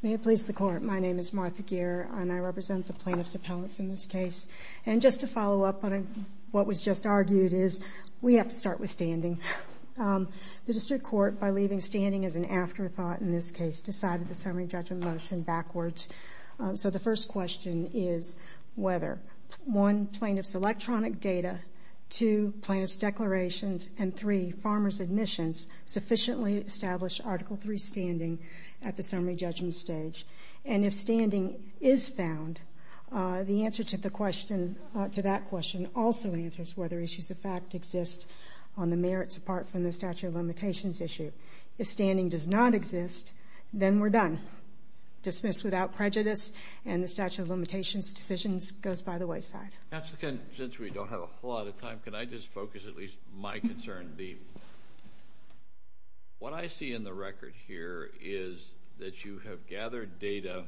May it please the Court, my name is Martha Geer and I represent the Plaintiff's Appellants in this case. And just to follow up on what was just argued is we have to start with standing. The District Court, by leaving standing as an afterthought in this case, decided the Summary Judgment Motion backwards. So the first question is whether 1. Plaintiff's electronic data, 2. Plaintiff's declarations, and 3. Farmers' admissions sufficiently establish Article III standing at the Summary Judgment stage. And if standing is found, the answer to that question also answers whether issues of fact exist on the merits apart from the statute of limitations issue. If standing does not exist, then we're done. Dismissed without prejudice and the statute of limitations decisions goes by the wayside. Since we don't have a whole lot of time, can I just focus at least my concern? What I see in the record here is that you have gathered data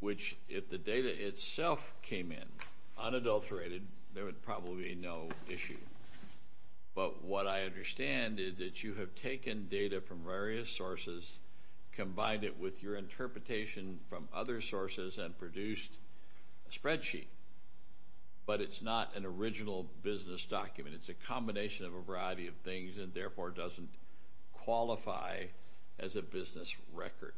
which, if the data itself came in unadulterated, there would probably be no issue. But what I understand is that you have taken data from various sources, combined it with your interpretation from other sources and produced a spreadsheet. But it's not an original business document. It's a combination of a variety of things and therefore doesn't qualify as a business record.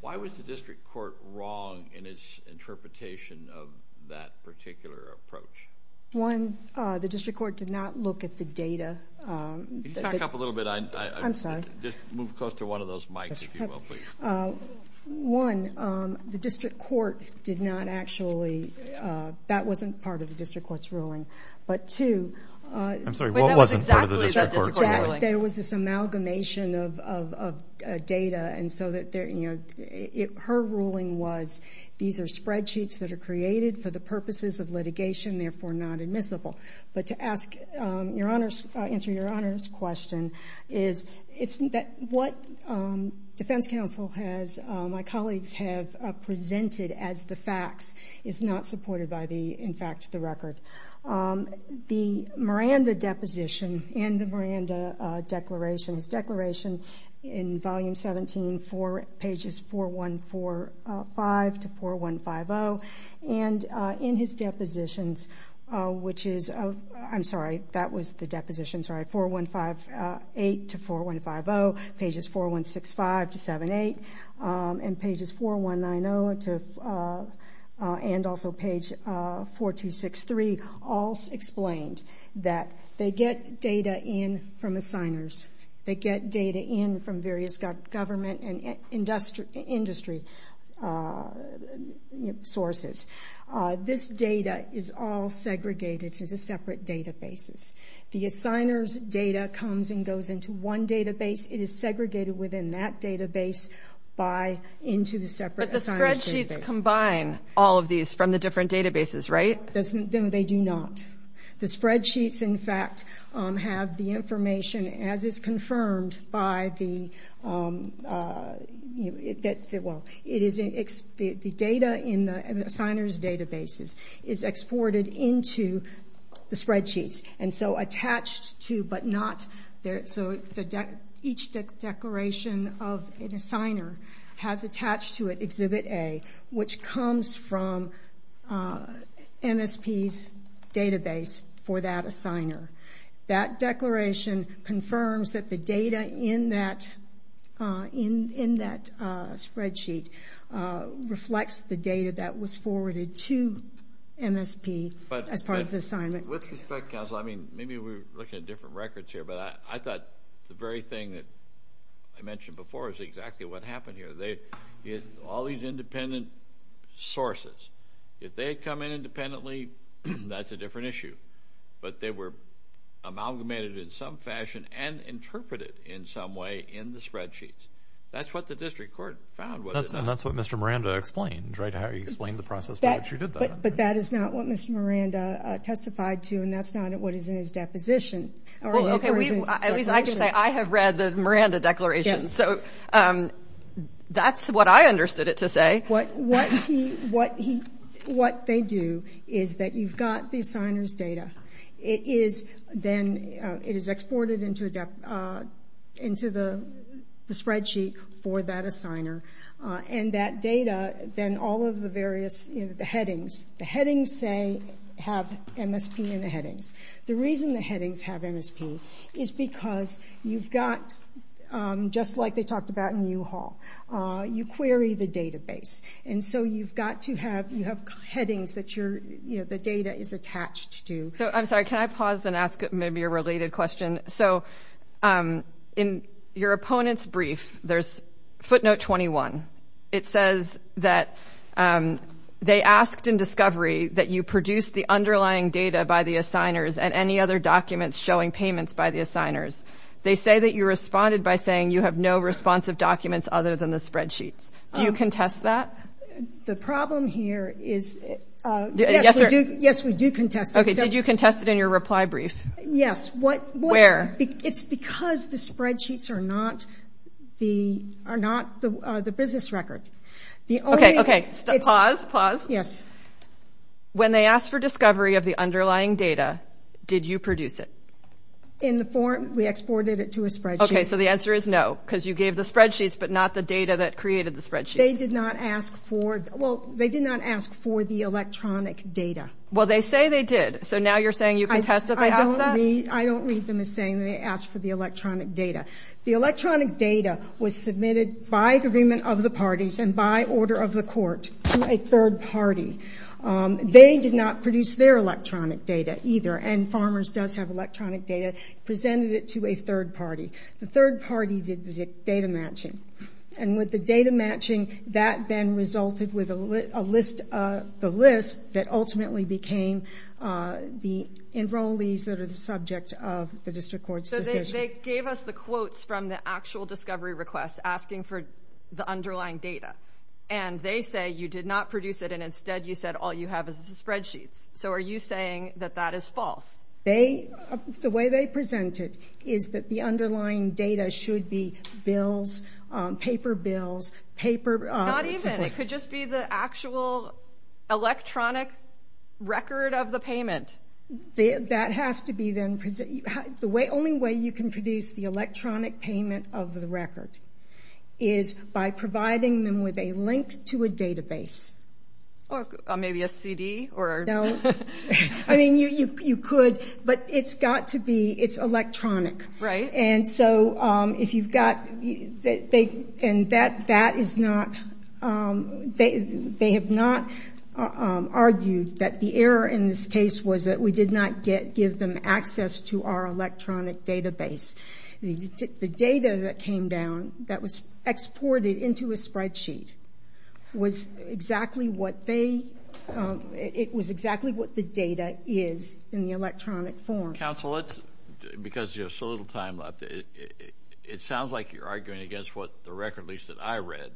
Why was the District Court wrong in its interpretation of that particular approach? One, the District Court did not look at the data. Can you back up a little bit? I'm sorry. Just move close to one of those mics, if you will, please. One, the District Court did not actually... That wasn't part of the District Court's ruling. But two... I'm sorry. What wasn't part of the District Court's ruling? That was exactly the District Court's ruling. There was this amalgamation of data and so that... Her ruling was, these are spreadsheets that are created for the purposes of litigation, therefore not admissible. But to answer Your My colleagues have presented as the facts. It's not supported by the, in fact, the record. The Miranda deposition and the Miranda declaration, his declaration in Volume 17, pages 4145-4150, and in his depositions, which is... I'm sorry. That was the depositions, right? 4158-4150, pages 4165-78, and pages 4190 and also page 4263, all explained that they get data in from assigners. They get data in from various government and industry sources. This data is all segregated into separate databases. The assigners' data comes and goes into one database. It is segregated within that database by... Into the separate assigners' database. But the spreadsheets combine all of these from the different databases, right? No, they do not. The spreadsheets, in fact, have the information as is confirmed by the... Well, it is... The data in the assigners' databases is exported into the spreadsheets and so attached to, but not... So each declaration of an assigner has attached to it Exhibit A, which comes from MSP's database for that assigner. That declaration confirms that the data in that spreadsheet reflects the data that was forwarded to MSP as part of the assignment. With respect, counsel, I mean, maybe we're looking at different records here, but I thought the very thing that I mentioned before is exactly what happened here. They... All these independent sources, if they come in independently, that's a different issue. But they were amalgamated in some fashion and interpreted in some way in the spreadsheets. That's what the district court found. And that's what Mr. Miranda explained, right? How he explained the process for which you did that. But that is not what Mr. Miranda testified to, and that's not what is in his deposition. Well, okay, at least I can say I have read the Miranda declaration. So that's what I understood it to say. What they do is that you've got the assigners' data. It is then... It is exported into the spreadsheet for that assigner. And that data, then all of the various headings... The headings, say, have MSP in the headings. The reason the headings have MSP is because you've got, just like they talked about in U-Haul, you query the database. And so you've got to have... You have headings that the data is attached to. I'm sorry, can I pause and ask maybe a related question? So in your opponent's brief, there's footnote 21. It says that they asked in discovery that you produce the underlying data by the assigners and any other documents showing payments by the assigners. They say that you responded by saying you have no responsive documents other than the spreadsheets. Do you contest that? The problem here is... Yes, we do contest it. Okay, did you answer? It's because the spreadsheets are not the business record. Okay, okay, pause, pause. Yes. When they asked for discovery of the underlying data, did you produce it? In the form, we exported it to a spreadsheet. Okay, so the answer is no, because you gave the spreadsheets but not the data that created the spreadsheets. They did not ask for... Well, they did not ask for the electronic data. Well, they say they did. So now you're saying you contest that they asked for that? I don't read them as saying they asked for the electronic data. The electronic data was submitted by agreement of the parties and by order of the court to a third party. They did not produce their electronic data either, and Farmers does have electronic data, presented it to a third party. The third party did the data matching, and with the data matching, that then resulted with a list that ultimately became the enrollees that are the subject of the district court's decision. So they gave us the quotes from the actual discovery request asking for the underlying data, and they say you did not produce it, and instead you said all you have is the spreadsheets. So are you saying that that is false? The way they presented is that the underlying data should be bills, paper bills, Not even. It could just be the actual electronic record of the payment. The only way you can produce the electronic payment of the record is by providing them with a link to a database. Or maybe a CD? No. I mean, you could, but it's got to be, it's electronic. Right. And so if you've got, and that is not, they have not argued that the error in this case was that we did not give them access to our electronic database. The data that came down that was exported into a spreadsheet was exactly what they, it was exactly what the data is in the electronic form. Counsel, because you have so little time left, it sounds like you're arguing against what the record leaks that I read.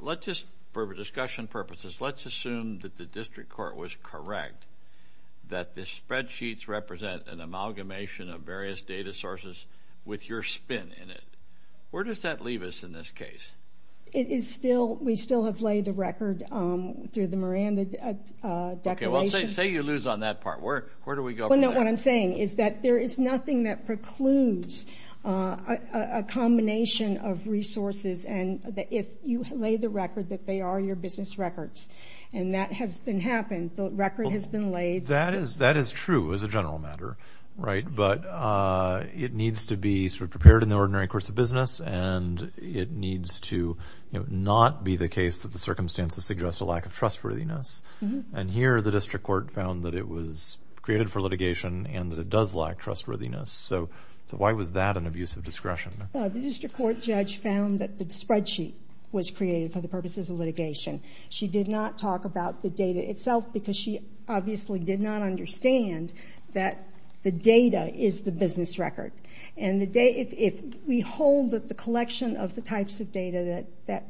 Let's just, for discussion purposes, let's assume that the district court was correct that the spreadsheets represent an amalgamation of various data sources with your spin in it. Where does that leave us in this case? It is still, we still have laid the record through the Miranda declaration. Okay, say you lose on that part. Where do we go from there? What I'm saying is that there is nothing that precludes a combination of resources and that if you lay the record that they are your business records. And that has been happened. The record has been laid. That is true as a general matter. Right. But it needs to be sort of prepared in the ordinary course of business. And it needs to not be the case that the circumstances suggest a lack of trustworthiness. And here the district court found that it was created for litigation and that it does lack trustworthiness. So why was that an abuse of discretion? The district court judge found that the spreadsheet was created for the purposes of litigation. She did not talk about the data itself because she obviously did not understand that the data is the business record. And the data, if we hold that the collection of the types of data that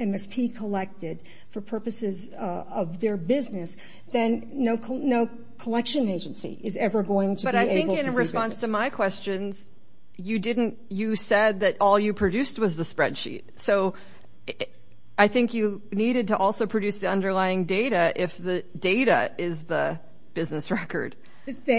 MSP collected for purposes of their business, then no collection agency is ever going to be able to do business. But I think in response to my questions, you didn't, you said that all you produced was the spreadsheet. So I think you needed to also produce the underlying data if the data is the business record. The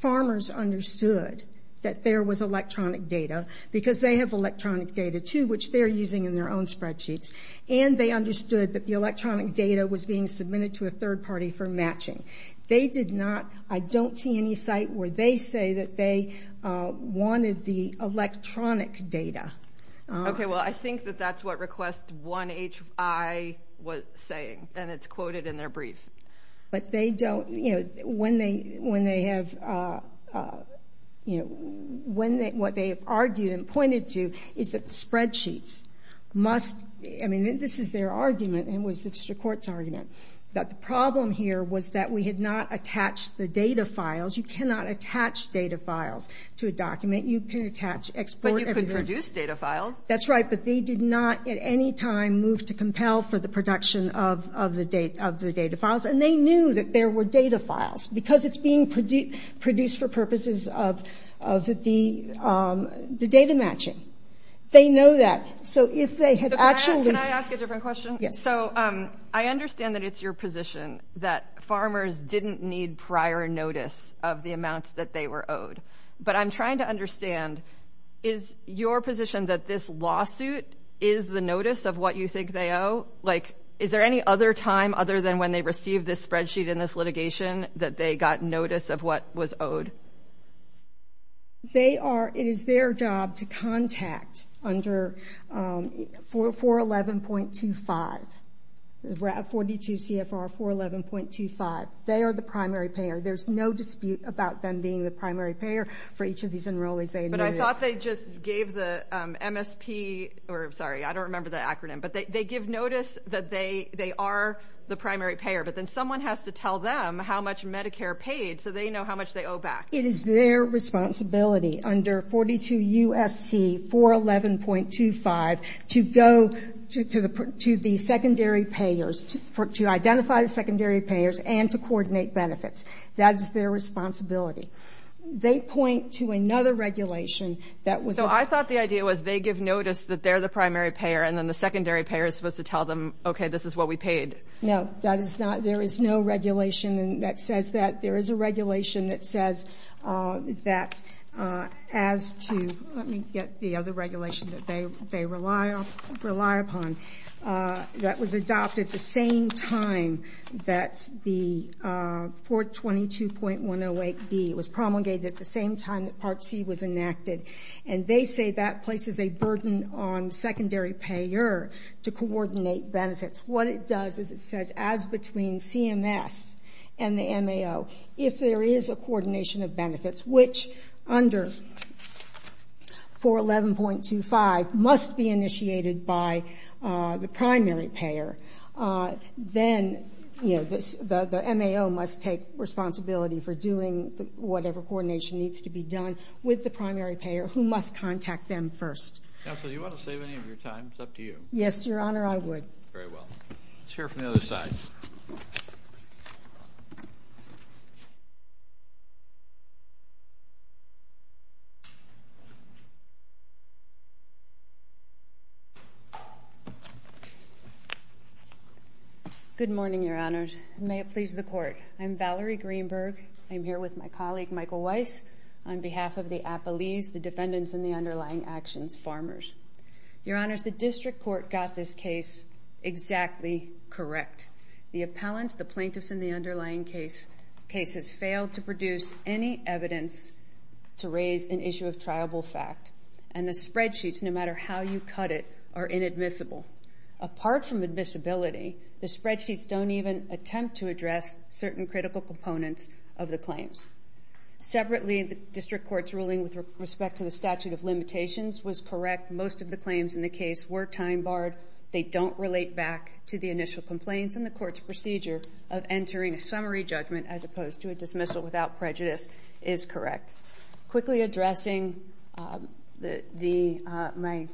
farmers understood that there was electronic data because they have electronic data too, which they're using in their own spreadsheets. And they understood that the electronic data was being submitted to a third party for matching. They did not, I don't see any site where they say that they wanted the electronic data. Okay. Well, I think that that's what request 1HI was saying. And it's quoted in their brief. But they don't, you know, when they have, you know, what they have argued and pointed to is that spreadsheets must, I mean, this is their argument and it was the district court's argument, that the problem here was that we had not attached the data files. You cannot attach data files to a document. You can attach, export. But you could produce data files. That's right. But they did not at any time move to compel for the production of the data files. And they knew that there were data files because it's being produced for purposes of the data matching. They know that. So if they had actually... Can I ask a different question? Yes. So I understand that it's your position that farmers didn't need prior notice of the amounts that they were owed. But I'm trying to understand, is your position that this lawsuit is the notice of what you think they owe? Like, is there any other time other than when they received this spreadsheet in this litigation that they got notice of what was owed? They are, it is their job to contact under 411.25, 42 CFR 411.25. They are the primary payer. There's no dispute about them being the primary payer for each of these enrollees. But I thought they just gave the MSP, or sorry, I don't remember the acronym. But they give notice that they are the primary payer. But then someone has to tell them how much Medicare paid so they know how much they owe back. It is their responsibility under 42 U.S.C. 411.25 to go to the secondary payers, to identify the secondary payers and to coordinate benefits. That is their responsibility. They point to another regulation that was... So I thought the idea was they give notice that they're the primary payer and then the secondary payer is supposed to tell them, okay, this is what we paid. No, that is not, there is no regulation that says that. There is a regulation that says that as to, let me get the other regulation that they rely upon, that was adopted the same time that the 422.108B was promulgated at the same time that Part C was enacted. And they say that places a burden on secondary payer to coordinate benefits. What it does is it says as between CMS and the MAO, if there is a coordination of benefits, which under 411.25 must be initiated by the primary payer, then, you know, the MAO must take responsibility for doing whatever coordination needs to be done with the primary payer who must contact them first. Counsel, do you want to save any of your time? It's up to you. Yes, Your Honor, I would. Very well. Let's hear from the other side. Good morning, Your Honors. May it please the Court. I'm Valerie Greenberg. I'm here with my colleague, Michael Weiss, on behalf of the Appalese, the plaintiffs, and the underlying case. The case has failed to produce any evidence to raise an issue of triable fact. And the spreadsheets, no matter how you cut it, are inadmissible. Apart from admissibility, the spreadsheets don't even attempt to address certain critical components of the claims. Separately, the district court's ruling with respect to the statute of entering a summary judgment as opposed to a dismissal without prejudice is correct. Quickly addressing my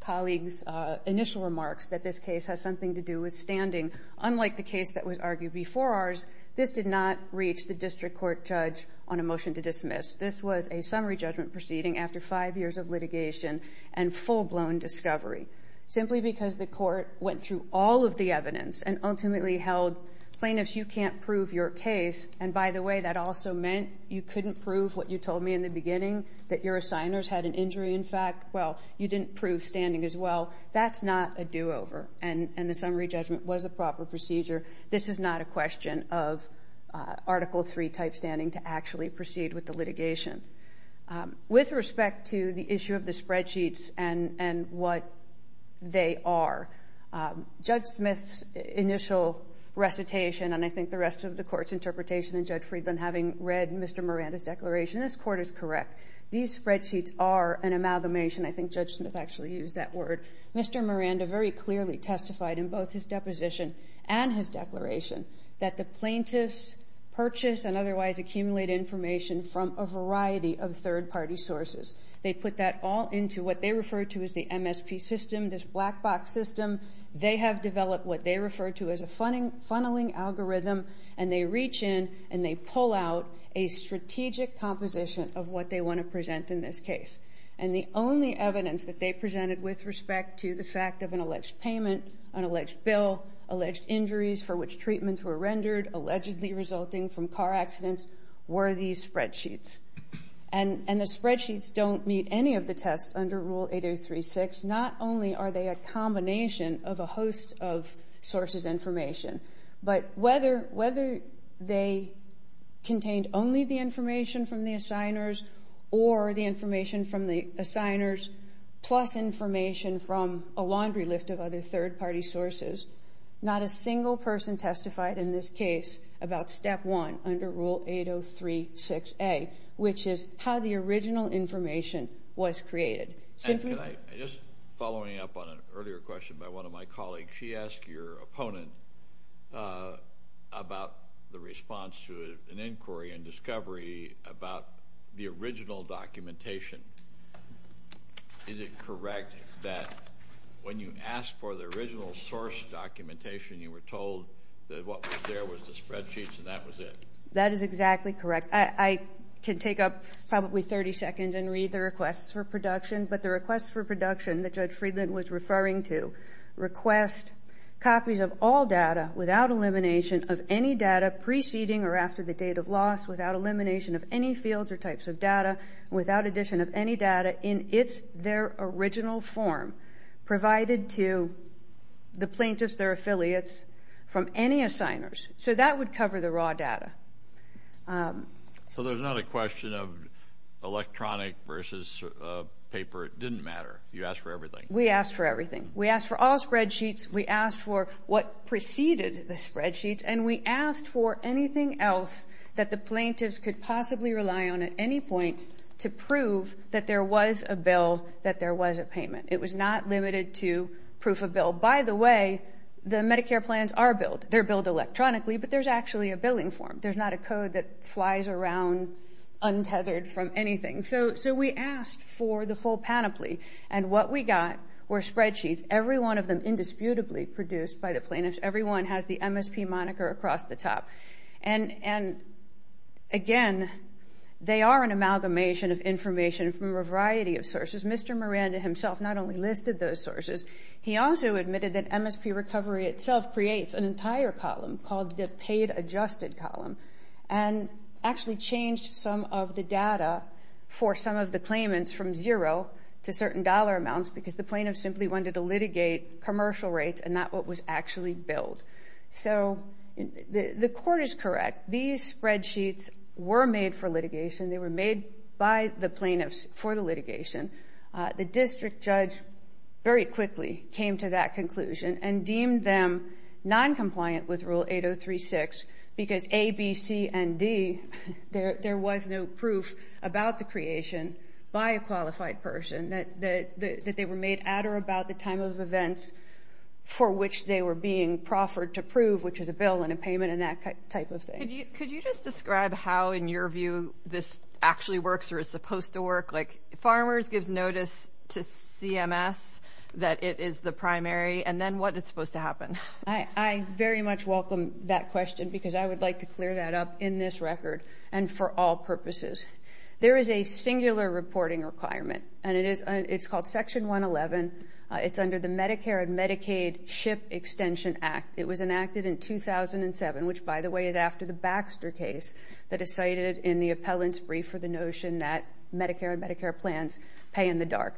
colleague's initial remarks that this case has something to do with standing, unlike the case that was argued before ours, this did not reach the district court judge on a motion to dismiss. This was a summary judgment proceeding after five years of litigation and full-blown discovery. Simply because the court went through all of the evidence and ultimately held, plaintiffs, you can't prove your case. And by the way, that also meant you couldn't prove what you told me in the beginning, that your assigners had an injury. In fact, well, you didn't prove standing as well. That's not a do-over. And the summary judgment was a proper procedure. This is not a question. of Article III type standing to actually proceed with the litigation. With respect to the issue of the spreadsheets and what they are, Judge Smith's initial recitation, and I think the rest of the court's interpretation, and Judge Friedland having read Mr. Miranda's declaration, this court is correct. These spreadsheets are an amalgamation. I think Judge Smith actually used that word. Mr. Miranda very clearly testified in both his deposition and his declaration that the plaintiffs' purchase and otherwise accumulate information from a variety of third-party sources. They put that all into what they refer to as the MSP system, this black box system. They have developed what they refer to as a funneling algorithm, and they reach in and they pull out a strategic composition of what they want to present in this case. And the only evidence that they presented with respect to the fact of an alleged payment, an alleged bill, alleged injuries for which treatments were rendered, allegedly resulting from car accidents, were these spreadsheets. And the spreadsheets don't meet any of the tests under Rule 8036. Not only are they a combination of a host of sources' information, but whether they contained only the information from the assigners or the information from the assigners plus information from a laundry list of other third-party sources, not a single person testified in this case about Step 1 under Rule 8036A, which is how the original information was created. Just following up on an earlier question by one of my colleagues, she asked your opponent about the response to an inquiry and discovery about the original documentation. Is it correct that when you asked for the original source documentation, you were told that what was there was the spreadsheets and that was it? That is exactly correct. I could take up probably 30 seconds and read the requests for production, but the requests for production that Judge Friedland was referring to request copies of all data without elimination of any data preceding or after the date of loss, without elimination of any fields or types of data, without addition of any data in their original form provided to the plaintiffs, their affiliates, from any assigners. So that would cover the raw data. So there's not a question of electronic versus paper. It didn't matter. You asked for everything. We asked for everything. We asked for all spreadsheets. We asked for what preceded the spreadsheets. And we asked for anything else that the plaintiffs could possibly rely on at any point to prove that there was a bill, that there was a payment. It was not limited to proof of bill. By the way, the Medicare plans are billed. They're billed electronically, but there's actually a billing form. There's not a code that flies around untethered from anything. So we asked for the full panoply, and what we got were spreadsheets, every one of them indisputably produced by the plaintiffs. Every one has the MSP moniker across the top. And again, they are an amalgamation of information from a variety of sources. Mr. Miranda himself not only listed those sources, he also admitted that MSP recovery itself creates an entire column called the paid adjusted column and actually changed some of the data for some of the claimants from zero to certain dollar amounts because the plaintiffs simply wanted to litigate commercial rates and not what was actually billed. So the court is correct. These spreadsheets were made for litigation. They were made by the plaintiffs for the litigation. The district judge very quickly came to that conclusion and deemed them noncompliant with Rule 8036 because A, B, C, and D, there was no proof about the creation by a qualified person that they were made at or about the time of events for which they were being proffered to prove, which is a bill and a payment and that type of thing. Could you just describe how, in your view, this actually works or is supposed to work? Like, Farmers gives notice to CMS that it is the primary and then what is supposed to happen? I very much welcome that question because I would like to clear that up in this record and for all purposes. There is a singular reporting requirement and it's called Section 111. It's under the Medicare and Medicaid SHIP Extension Act. It was enacted in 2007, which, by the way, is after the Baxter case that is cited in the appellant's brief for the notion that Medicare and Medicare plans pay in the dark.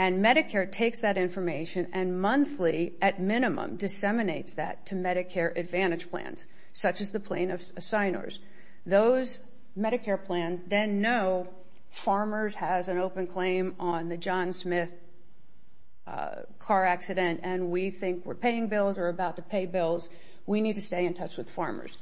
And Medicare takes that information and monthly, at minimum, disseminates that to Medicare Advantage plans, such as the plaintiffs' signers. Those Medicare plans then know Farmers has an open claim on the John Smith car accident and we think we're paying bills or about to pay bills. We need to stay in touch with Farmers.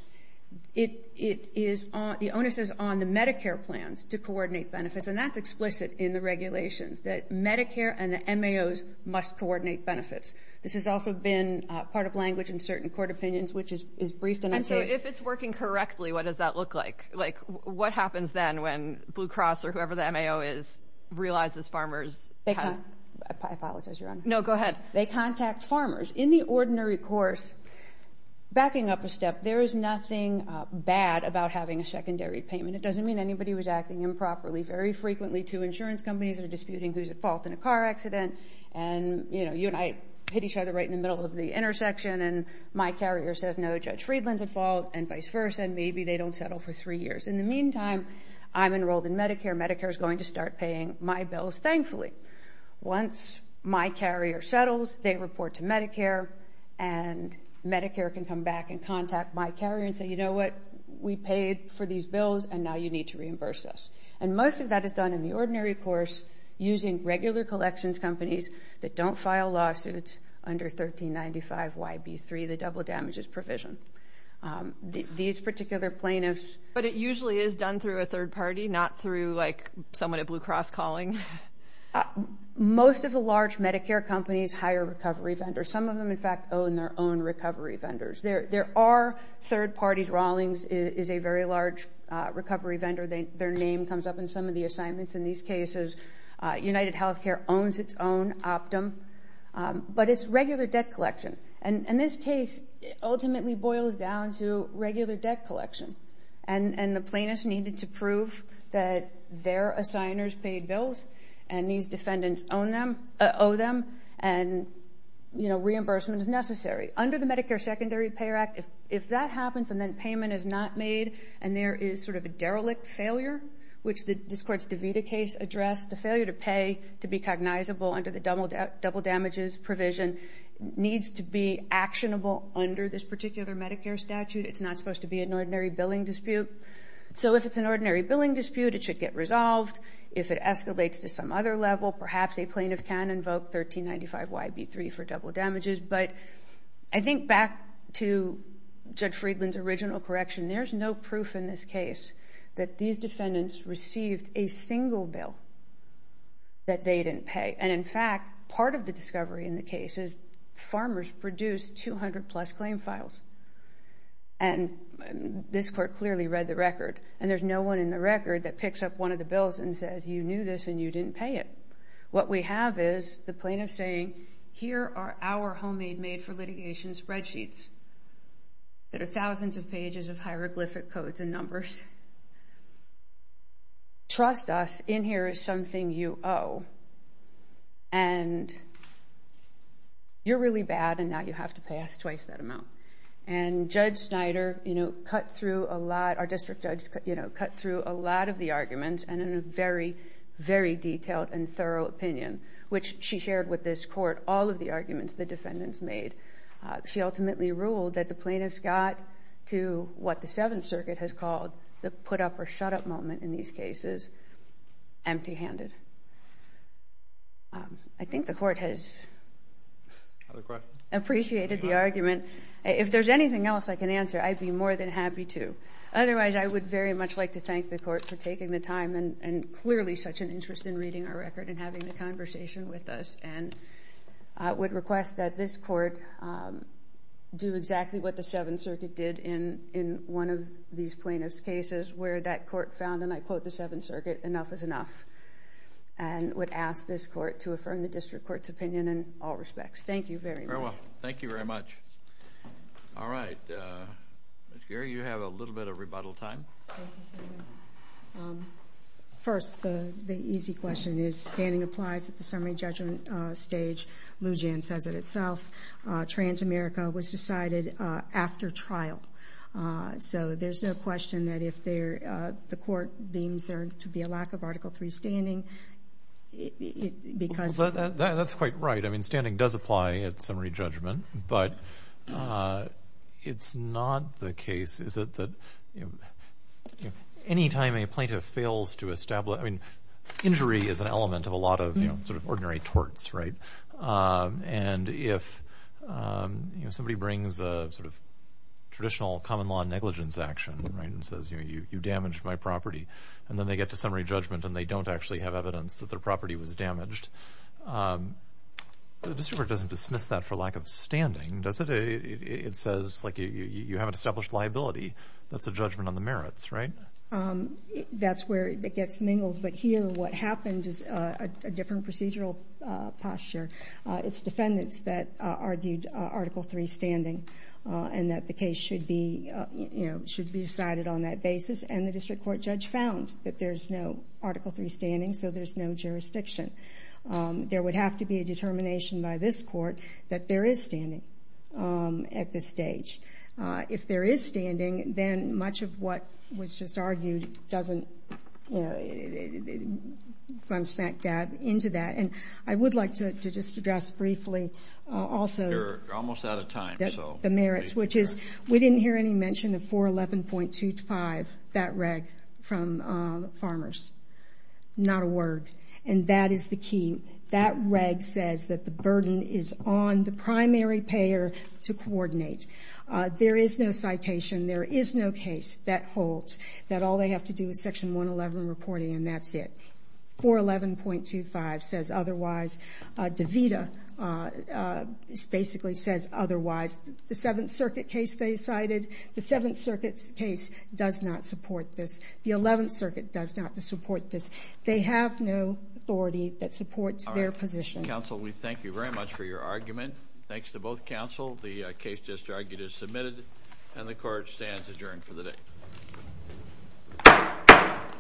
The onus is on the Medicare plans to coordinate benefits and that's explicit in the regulations, that Medicare and the MAOs must coordinate benefits. This has also been part of language in certain court opinions, which is briefed in our case. And so, if it's working correctly, what does that look like? Like, what happens then when Blue Cross or whoever the MAO is realizes Farmers has... There's nothing bad about having a secondary payment. It doesn't mean anybody was acting improperly. Very frequently, two insurance companies are disputing who's at fault in a car accident and, you know, you and I hit each other right in the middle of the intersection and my carrier says, no, Judge Friedland's at fault and vice versa and maybe they don't settle for three years. In the meantime, I'm enrolled in Medicare. Medicare's going to start paying my bills, thankfully. Once my carrier settles, they report to Medicare and Medicare can come back and contact my carrier and say, you know what, we paid for these bills and now you need to reimburse us. And most of that is done in the ordinary course using regular collections companies that don't file lawsuits under 1395YB3, the double damages provision. These particular plaintiffs... But it usually is done through a third party, not through, like, someone at Blue Cross calling? Most of the large Medicare companies hire recovery vendors. Some of them, in fact, own their own recovery vendors. There are third parties. Rawlings is a very large recovery vendor. Their name comes up in some of the assignments in these cases. UnitedHealthcare owns its own optum. But it's regular debt collection. And this case ultimately boils down to regular debt collection. And the plaintiffs needed to prove that their assigners paid bills and these defendants owe them and, you know, reimbursement is necessary. Under the Medicare Secondary Pay Act, if that happens and then payment is not made and there is sort of a derelict failure, which this court's DeVita case addressed, the failure to pay to be cognizable under the double damages provision needs to be actionable under this particular Medicare statute. It's not supposed to be an ordinary billing dispute. So if it's an ordinary billing dispute, it should get resolved. If it escalates to some other level, perhaps a plaintiff can invoke 1395YB3 for double damages. But I think back to Judge Friedland's original correction, there's no proof in this case that these defendants received a single bill that they didn't pay. And in fact, part of the discovery in the case is farmers produced 200 plus claim files. And this court clearly read the record. And there's no one in the record that picks up one of the bills and says, you knew this and you didn't pay it. What we have is the plaintiff saying, here are our homemade made for litigation spreadsheets that are thousands of pages of hieroglyphic codes and numbers. And trust us, in here is something you owe. And you're really bad and now you have to pay us twice that amount. And Judge Snyder, our district judge, cut through a lot of the arguments and in a very, very detailed and thorough opinion, which she shared with this court, all of the arguments the defendants made. She ultimately ruled that the plaintiffs got to what the Seventh Circuit has called the put up or shut up moment in these cases empty handed. I think the court has appreciated the argument. If there's anything else I can answer, I'd be more than happy to. Otherwise, I would very much like to thank the court for taking the time and clearly such an interest in reading our record and having the conversation with us. And I would request that this court do exactly what the Seventh Circuit did in one of these plaintiff's cases where that court found, and I quote the Seventh Circuit, enough is enough. And would ask this court to affirm the district court's opinion in all respects. Thank you very much. Very well. Thank you very much. All right. Ms. Geary, you have a little bit of rebuttal time. First, the easy question is standing applies at the summary judgment stage. Lujan says it itself. Transamerica was decided after trial. So there's no question that if the court deems there to be a lack of Article III standing because that's quite right. I mean, standing does apply at summary judgment, but it's not the case. Is it that anytime a plaintiff fails to establish, I mean, injury is an element of a lot of sort of ordinary torts, right? And if somebody brings a sort of traditional common law negligence action, right, and says, you know, you damaged my property, and then they get to summary judgment and they don't actually have evidence that their property was damaged, the district court doesn't dismiss that for lack of standing, does it? It says, like, you haven't established liability. That's a judgment on the merits, right? That's where it gets mingled, but here what happened is a different procedural posture. It's defendants that argued Article III standing and that the case should be, you know, should be decided on that basis, and the district court judge found that there's no Article III standing, so there's no jurisdiction. There would have to be a determination by this court that there is standing at this stage. If there is standing, then much of what was just argued doesn't, you know, it runs smack dab into that, and I would like to just address briefly also the merits, which is we didn't hear any mention of 411.25, that reg from farmers. Not a word, and that is the key. That reg says that the burden is on the primary payer to coordinate. There is no citation. There is no case that holds that all they have to do is Section 111 reporting and that's it. 411.25 says otherwise. DeVita basically says otherwise. The 7th Circuit case they cited, the 7th Circuit's case does not support this. The 11th Circuit does not support this. They have no authority that supports their position. All right. Counsel, we thank you very much for your argument. Thanks to both counsel. The case just argued is submitted, and the court stands adjourned for the day.